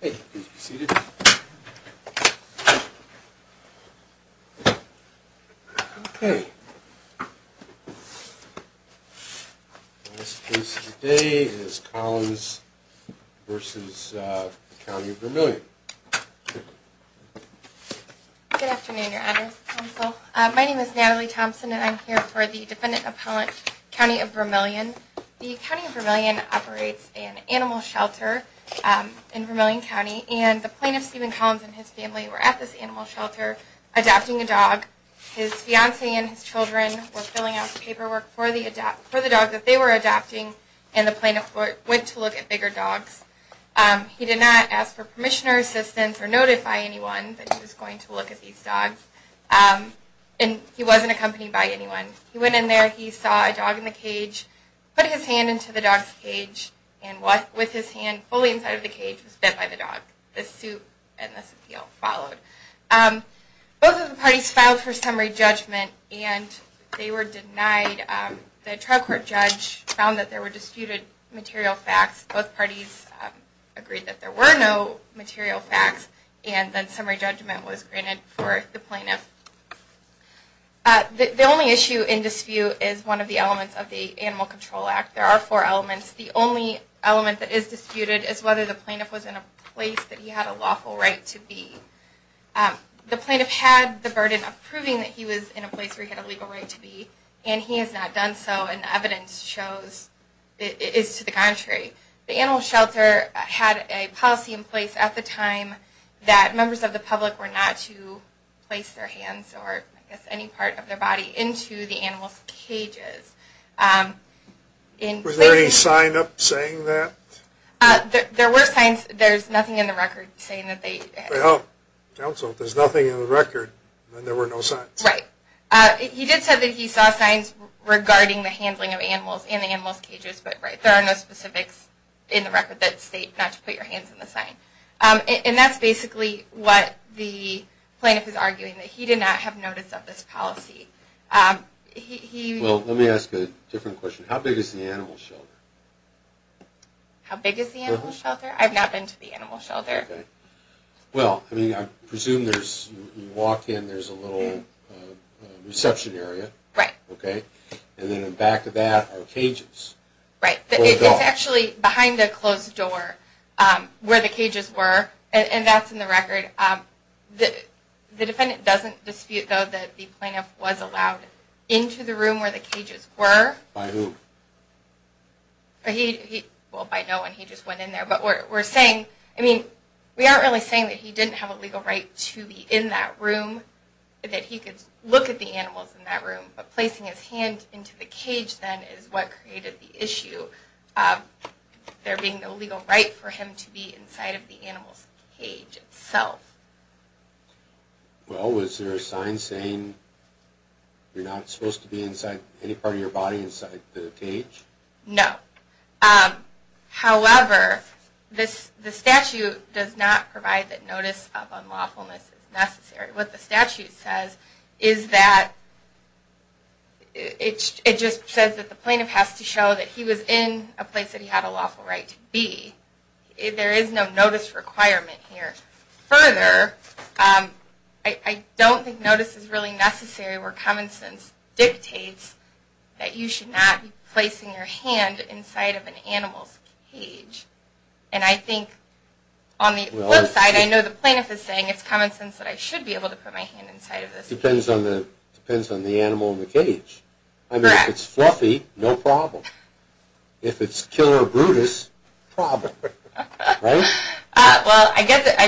Hey, please be seated. Okay. This case today is Collins versus County of Vermilion. Good afternoon, your honor. My name is Natalie Thompson and I'm here for the defendant appellant County of Vermilion. The County of Vermilion operates an animal shelter in Vermilion County. And the plaintiff, Stephen Collins, and his family were at this animal shelter adopting a dog. His fiancée and his children were filling out the paperwork for the dog that they were adopting. And the plaintiff went to look at bigger dogs. He did not ask for permission or assistance or notify anyone that he was going to look at these dogs. And he wasn't accompanied by anyone. He went in there, he saw a dog in the cage, put his hand into the dog's cage, and with his hand, fully inside of the cage, was bit by the dog. This suit and this appeal followed. Both of the parties filed for summary judgment and they were denied. The trial court judge found that there were disputed material facts. Both parties agreed that there were no material facts and that summary judgment was granted for the plaintiff. The only issue in dispute is one of the elements of the Animal Control Act. There are four elements. The only element that is disputed is whether the plaintiff was in a place that he had a lawful right to be. The plaintiff had the burden of proving that he was in a place where he had a legal right to be, and he has not done so, and evidence shows it is to the contrary. The animal shelter had a policy in place at the time that members of the public were not to place their hands or any part of their body into the animal's cages. Was there any sign up saying that? There were signs. There's nothing in the record saying that they... Well, counsel, if there's nothing in the record, then there were no signs. Right. He did say that he saw signs regarding the handling of animals in the animal's cages, but there are no specifics in the record that state not to put your hands in the sign. And that's basically what the plaintiff is arguing, that he did not have notice of this policy. Well, let me ask a different question. How big is the animal shelter? How big is the animal shelter? I've not been to the animal shelter. Okay. Well, I mean, I presume there's... You walk in, there's a little reception area. Right. Okay. And then back to that are cages. Right. It's actually behind a closed door where the cages were, and that's in the record. The defendant doesn't dispute, though, that the plaintiff was allowed into the room where the cages were. By who? He... Well, by no one. He just went in there. But we're saying... I mean, we aren't really saying that he didn't have a legal right to be in that room, that he could look at the animals in that room. But placing his hand into the cage, then, is what created the issue of there being no legal right for him to be inside of the animal's cage itself. Well, was there a sign saying you're not supposed to be inside any part of your body inside the cage? No. However, the statute does not provide that notice of unlawfulness is necessary. What the statute says is that it just says that the plaintiff has to show that he was in a place that he had a lawful right to be. There is no notice requirement here. Further, I don't think notice is really necessary where common sense dictates that you should not be placing your hand inside of an animal's cage. And I think, on the flip side, I know the plaintiff is saying it's common sense that I should be able to put my hand inside of this. Depends on the animal in the cage. Correct. I mean, if it's fluffy, no problem. If it's killer brutus, problem. Right? Well, I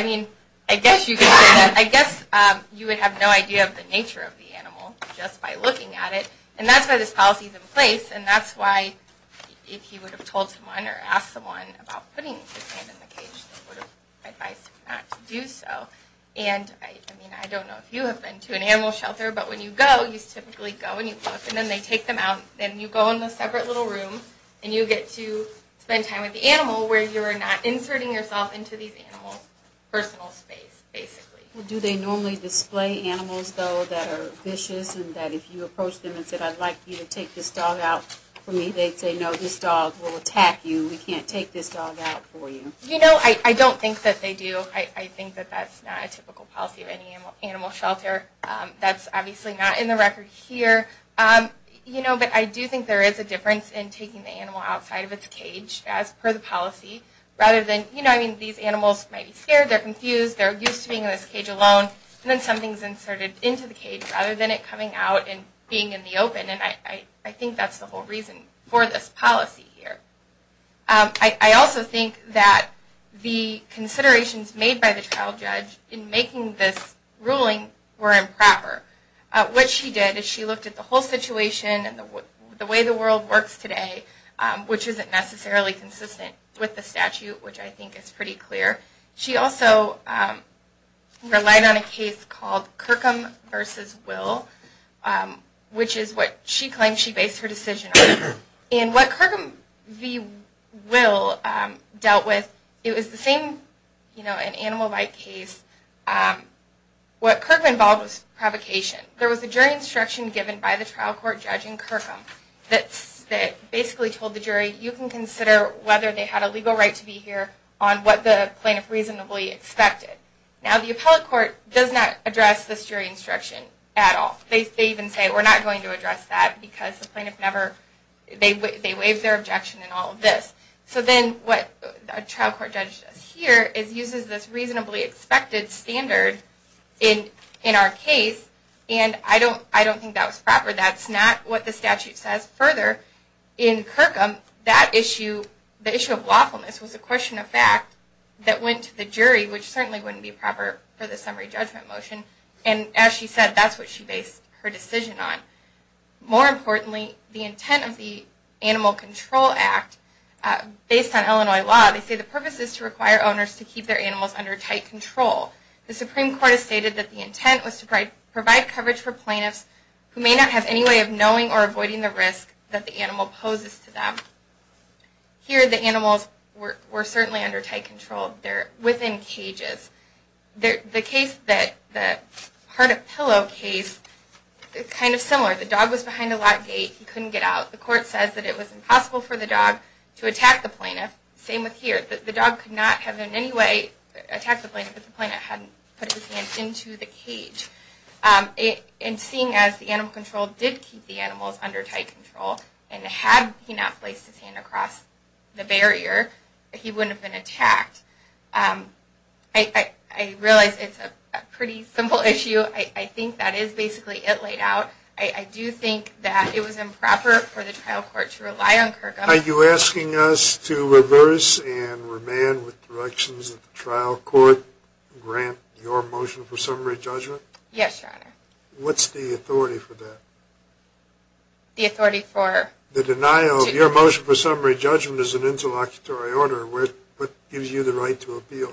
guess you could say that. I guess you would have no idea of the nature of the animal just by looking at it. And that's why this policy is in place. And that's why if he would have told someone or asked someone about putting his hand in the cage, they would have advised him not to do so. And, I mean, I don't know if you have been to an animal shelter, but when you go, you typically go and you look, and then they take them out. Then you go in a separate little room, and you get to spend time with the animal where you're not inserting yourself into these animals' personal space, basically. Do they normally display animals, though, that are vicious, and that if you approach them and said, I'd like you to take this dog out for me, they'd say, no, this dog will attack you. We can't take this dog out for you. You know, I don't think that they do. I think that that's not a typical policy of any animal shelter. That's obviously not in the record here. You know, but I do think there is a difference in taking the animal outside of its cage, as per the policy, rather than, you know, I mean, these animals might be scared, they're confused, they're used to being in this cage alone, and then something's inserted into the cage rather than it coming out and being in the open. And I think that's the whole reason for this policy here. I also think that the considerations made by the child judge in making this ruling were improper. What she did is she looked at the whole situation and the way the world works today, which isn't necessarily consistent with the statute, which I think is pretty clear. She also relied on a case called Kirkham v. Will, which is what she claimed she based her decision on. And what Kirkham v. Will dealt with, it was the same, you know, an animal-like case. What Kirkham involved was provocation. There was a jury instruction given by the trial court judge in Kirkham that basically told the jury, you can consider whether they had a legal right to be here on what the plaintiff reasonably expected. Now the appellate court does not address this jury instruction at all. They even say, we're not going to address that because the plaintiff never, they waive their objection and all of this. So then what a trial court judge does here is uses this reasonably expected standard in our case and I don't think that was proper. That's not what the statute says. Further, in Kirkham, that issue, the issue of lawfulness was a question of fact that went to the jury, which certainly wouldn't be proper for the summary judgment motion. And as she said, that's what she based her decision on. More importantly, the intent of the Animal Control Act, based on Illinois law, they say the purpose is to require owners to keep their animals under tight control. The Supreme Court has stated that the intent was to provide coverage for plaintiffs who may not have any way of knowing or avoiding the risk that the animal poses to them. Here the animals were certainly under tight control. They're within cages. The case, the heart of pillow case, is kind of similar. The dog was behind a locked gate. He couldn't get out. The court says that it was impossible for the dog to attack the plaintiff. Same with here. The dog could not have in any way attacked the plaintiff if the plaintiff hadn't put his hand into the cage. And seeing as the animal control did keep the animals under tight control, and had he not placed his hand across the barrier, he wouldn't have been attacked. I realize it's a pretty simple issue. I think that is basically it laid out. I do think that it was improper for the trial court to rely on Kirkham. Are you asking us to reverse and remand with directions that the trial court grant your motion for summary judgment? Yes, Your Honor. What's the authority for that? The authority for? The denial of your motion for summary judgment is an interlocutory order. What gives you the right to appeal?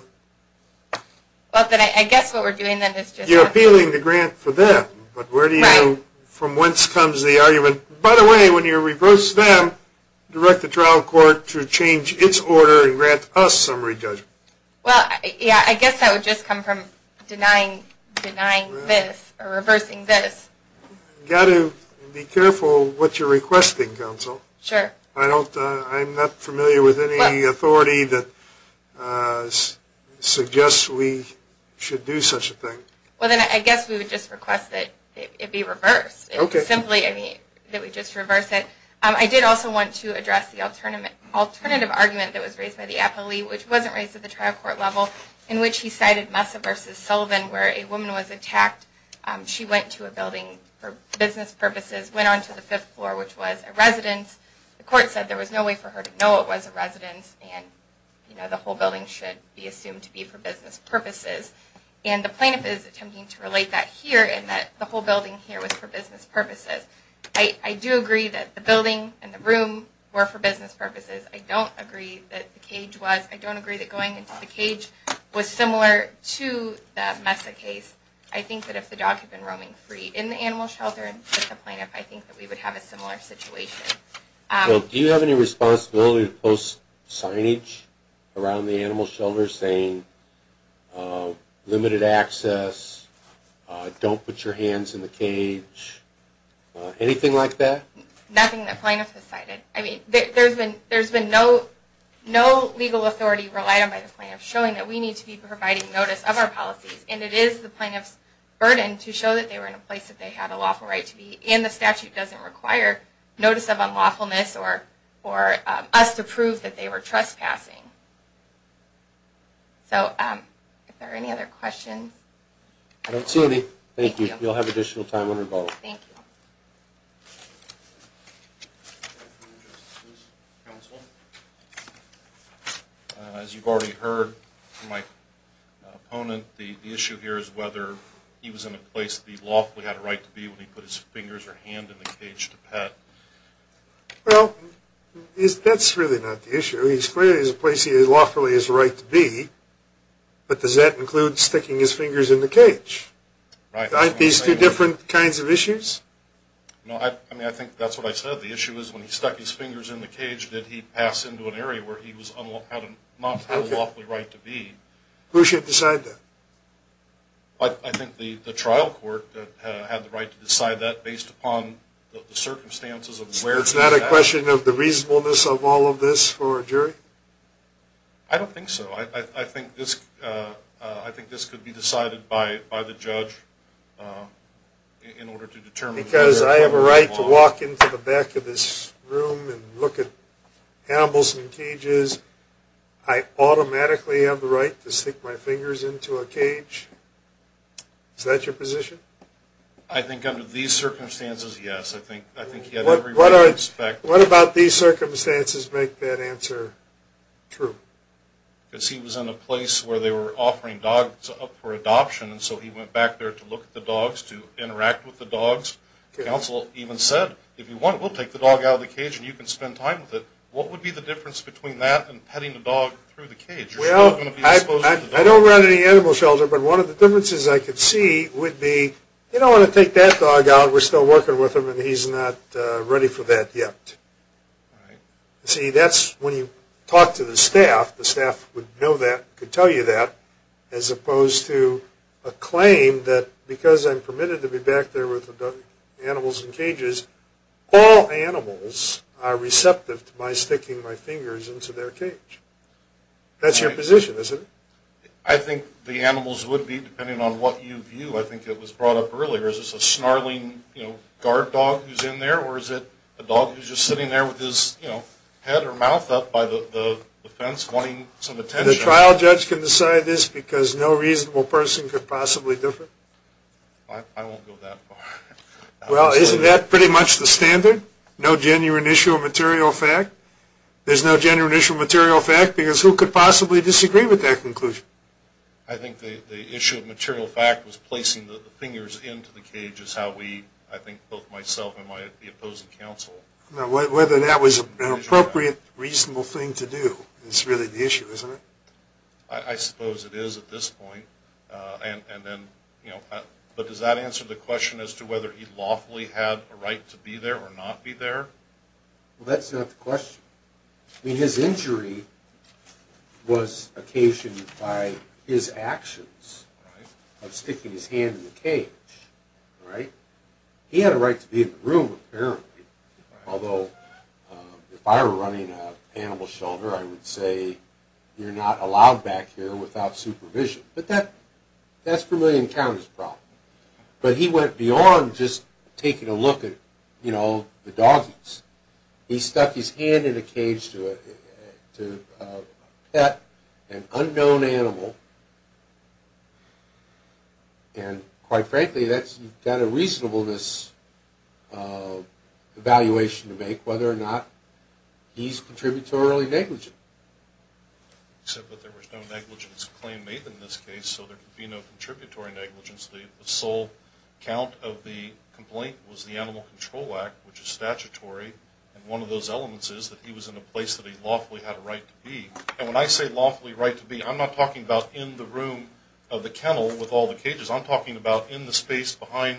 I guess what we're doing then is just... You're appealing the grant for them. Right. But where do you know from whence comes the argument? By the way, when you reverse them, direct the trial court to change its order and grant us summary judgment. I guess that would just come from denying this or reversing this. You've got to be careful what you're requesting, counsel. Sure. I'm not familiar with any authority that suggests we should do such a thing. I guess we would just request that it be reversed. Okay. Or simply that we just reverse it. I did also want to address the alternative argument that was raised by the appellee, which wasn't raised at the trial court level, in which he cited Messa v. Sullivan where a woman was attacked. She went to a building for business purposes, went on to the fifth floor, which was a residence. The court said there was no way for her to know it was a residence and the whole building should be assumed to be for business purposes. And the plaintiff is attempting to relate that here in that the whole building here was for business purposes. I do agree that the building and the room were for business purposes. I don't agree that the cage was. I don't agree that going into the cage was similar to the Messa case. I think that if the dog had been roaming free in the animal shelter with the plaintiff, I think that we would have a similar situation. Do you have any responsibility to post signage around the animal shelter saying limited access, don't put your hands in the cage, anything like that? Nothing that plaintiff has cited. I mean, there's been no legal authority relied on by the plaintiff showing that we need to be providing notice of our policies. And it is the plaintiff's burden to show that they were in a place that they had a lawful right to be. And the statute doesn't require notice of unlawfulness or us to prove that they were trespassing. So are there any other questions? I don't see any. Thank you. You'll have additional time on your vote. Thank you. As you've already heard from my opponent, the issue here is whether he was in a place that he lawfully had a right to be when he put his fingers or hand in the cage to pet. Well, that's really not the issue. He's clearly in a place that he lawfully has a right to be, but does that include sticking his fingers in the cage? Aren't these two different kinds of issues? No, I think that's what I said. The issue is when he stuck his fingers in the cage, did he pass into an area where he did not have a lawfully right to be? Who should decide that? I think the trial court had the right to decide that based upon the circumstances of where he was at. It's not a question of the reasonableness of all of this for a jury? I don't think so. I think this could be decided by the judge in order to determine whether or not… Because I have a right to walk into the back of this room and look at Hamilson cages. I automatically have the right to stick my fingers into a cage. Is that your position? I think under these circumstances, yes. I think he had every right to expect… What about these circumstances make that answer true? Because he was in a place where they were offering dogs up for adoption, and so he went back there to look at the dogs, to interact with the dogs. Counsel even said, if you want, we'll take the dog out of the cage and you can spend time with it. What would be the difference between that and petting the dog through the cage? I don't run any animal shelter, but one of the differences I could see would be, you don't want to take that dog out, we're still working with him, and he's not ready for that yet. See, that's when you talk to the staff, the staff would know that, could tell you that, as opposed to a claim that because I'm permitted to be back there with the animals in cages, all animals are receptive to my sticking my fingers into their cage. That's your position, isn't it? I think the animals would be, depending on what you view, I think it was brought up earlier, is this a snarling guard dog who's in there, or is it a dog who's just sitting there with his head or mouth up by the fence wanting some attention? The trial judge can decide this because no reasonable person could possibly differ? I won't go that far. Well, isn't that pretty much the standard? No genuine issue of material fact? There's no genuine issue of material fact because who could possibly disagree with that conclusion? I think the issue of material fact was placing the fingers into the cage is how we, I think both myself and my opposing counsel, Whether that was an appropriate, reasonable thing to do is really the issue, isn't it? I suppose it is at this point. But does that answer the question as to whether he lawfully had a right to be there or not be there? Well, that's not the question. I mean, his injury was occasioned by his actions of sticking his hand in the cage. He had a right to be in the room, apparently. Although, if I were running a animal shelter, I would say, You're not allowed back here without supervision. But that's for me to encounter as a problem. But he went beyond just taking a look at, you know, the doggies. He stuck his hand in a cage to a pet, an unknown animal. And quite frankly, you've got a reasonableness evaluation to make whether or not he's contributory negligent. Except that there was no negligence claim made in this case, so there could be no contributory negligence. The sole count of the complaint was the Animal Control Act, which is statutory. And one of those elements is that he was in a place that he lawfully had a right to be. And when I say lawfully right to be, I'm not talking about in the room of the kennel with all the cages. I'm talking about in the space behind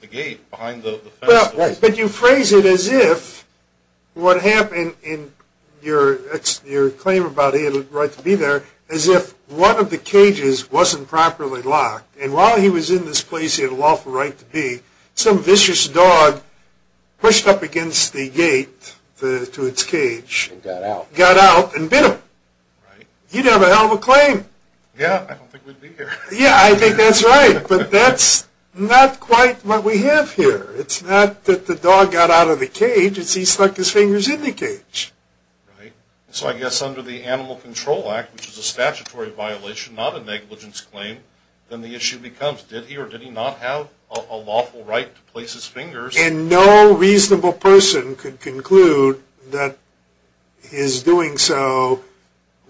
the gate, behind the fence. But you phrase it as if what happened in your claim about he had a right to be there, as if one of the cages wasn't properly locked. And while he was in this place he had a lawful right to be, some vicious dog pushed up against the gate to its cage. And got out. Got out and bit him. He'd have a hell of a claim. Yeah, I don't think we'd be here. Yeah, I think that's right. But that's not quite what we have here. It's not that the dog got out of the cage. It's he stuck his fingers in the cage. Right. So I guess under the Animal Control Act, which is a statutory violation, not a negligence claim, then the issue becomes did he or did he not have a lawful right to place his fingers? And no reasonable person could conclude that his doing so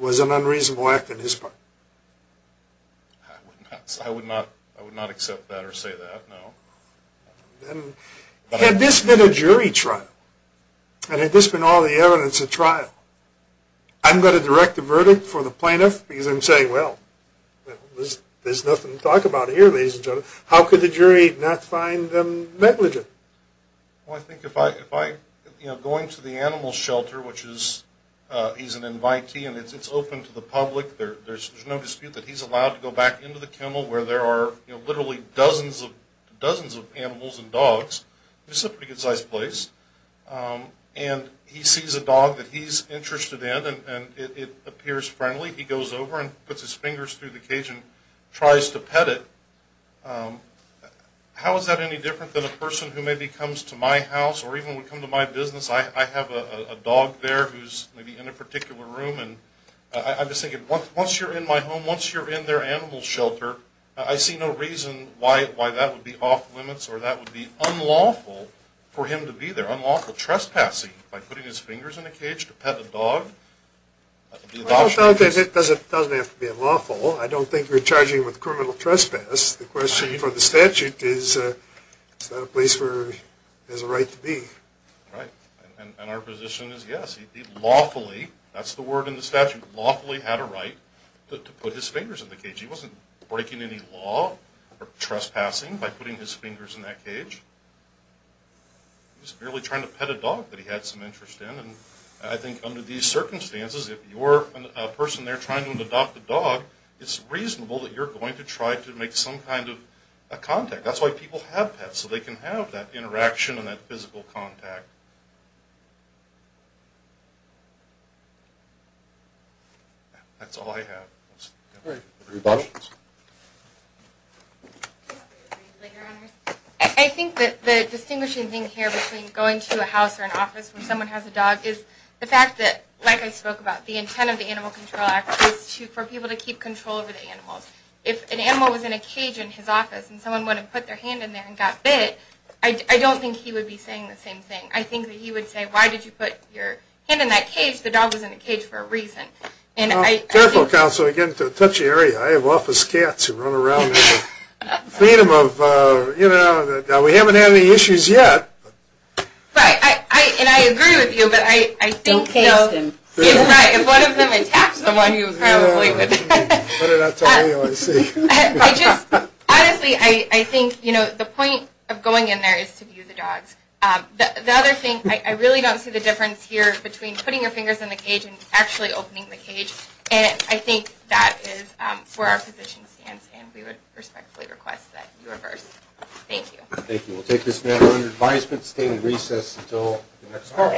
was an unreasonable act on his part. I would not accept that or say that, no. Had this been a jury trial and had this been all the evidence at trial, I'm going to direct the verdict for the plaintiff because I'm saying, well, there's nothing to talk about here, ladies and gentlemen. How could the jury not find him negligent? Well, I think if I, you know, going to the animal shelter, which is, he's an invitee and it's open to the public. There's no dispute that he's allowed to go back into the kennel where there are, you know, literally dozens of animals and dogs. This is a pretty concise place. And he sees a dog that he's interested in and it appears friendly. He goes over and puts his fingers through the cage and tries to pet it. How is that any different than a person who maybe comes to my house or even would come to my business? I have a dog there who's maybe in a particular room. And I'm just thinking, once you're in my home, once you're in their animal shelter, I see no reason why that would be off-limits or that would be unlawful for him to be there. Unlawful trespassing by putting his fingers in a cage to pet a dog. I don't think it doesn't have to be unlawful. I don't think you're charging with criminal trespass. The question for the statute is, is that a place where he has a right to be? Right. And our position is, yes, he did lawfully. That's the word in the statute, lawfully had a right to put his fingers in the cage. He wasn't breaking any law or trespassing by putting his fingers in that cage. He was merely trying to pet a dog that he had some interest in. And I think under these circumstances, if you're a person there trying to adopt a dog, it's reasonable that you're going to try to make some kind of a contact. That's why people have pets, so they can have that interaction and that physical contact. That's all I have. Great. Any questions? I think that the distinguishing thing here between going to a house or an office where someone has a dog is the fact that, like I spoke about, the intent of the Animal Control Act is for people to keep control over the animals. If an animal was in a cage in his office and someone went and put their hand in there and got bit, I don't think he would be saying the same thing. I think that he would say, why did you put your hand in that cage? The dog was in the cage for a reason. Well, careful, Counselor, to get into a touchy area. I have office cats who run around there. Freedom of, you know, we haven't had any issues yet. Right. And I agree with you, but I think, you know, if one of them attacked someone, he probably would put it out to me, I see. Honestly, I think, you know, the point of going in there is to view the dogs. The other thing, I really don't see the difference here between putting your fingers in the cage and actually opening the cage, and I think that is where our position stands, and we would respectfully request that you reverse. Thank you. Thank you. We'll take this matter under advisement, stay in recess until the next call.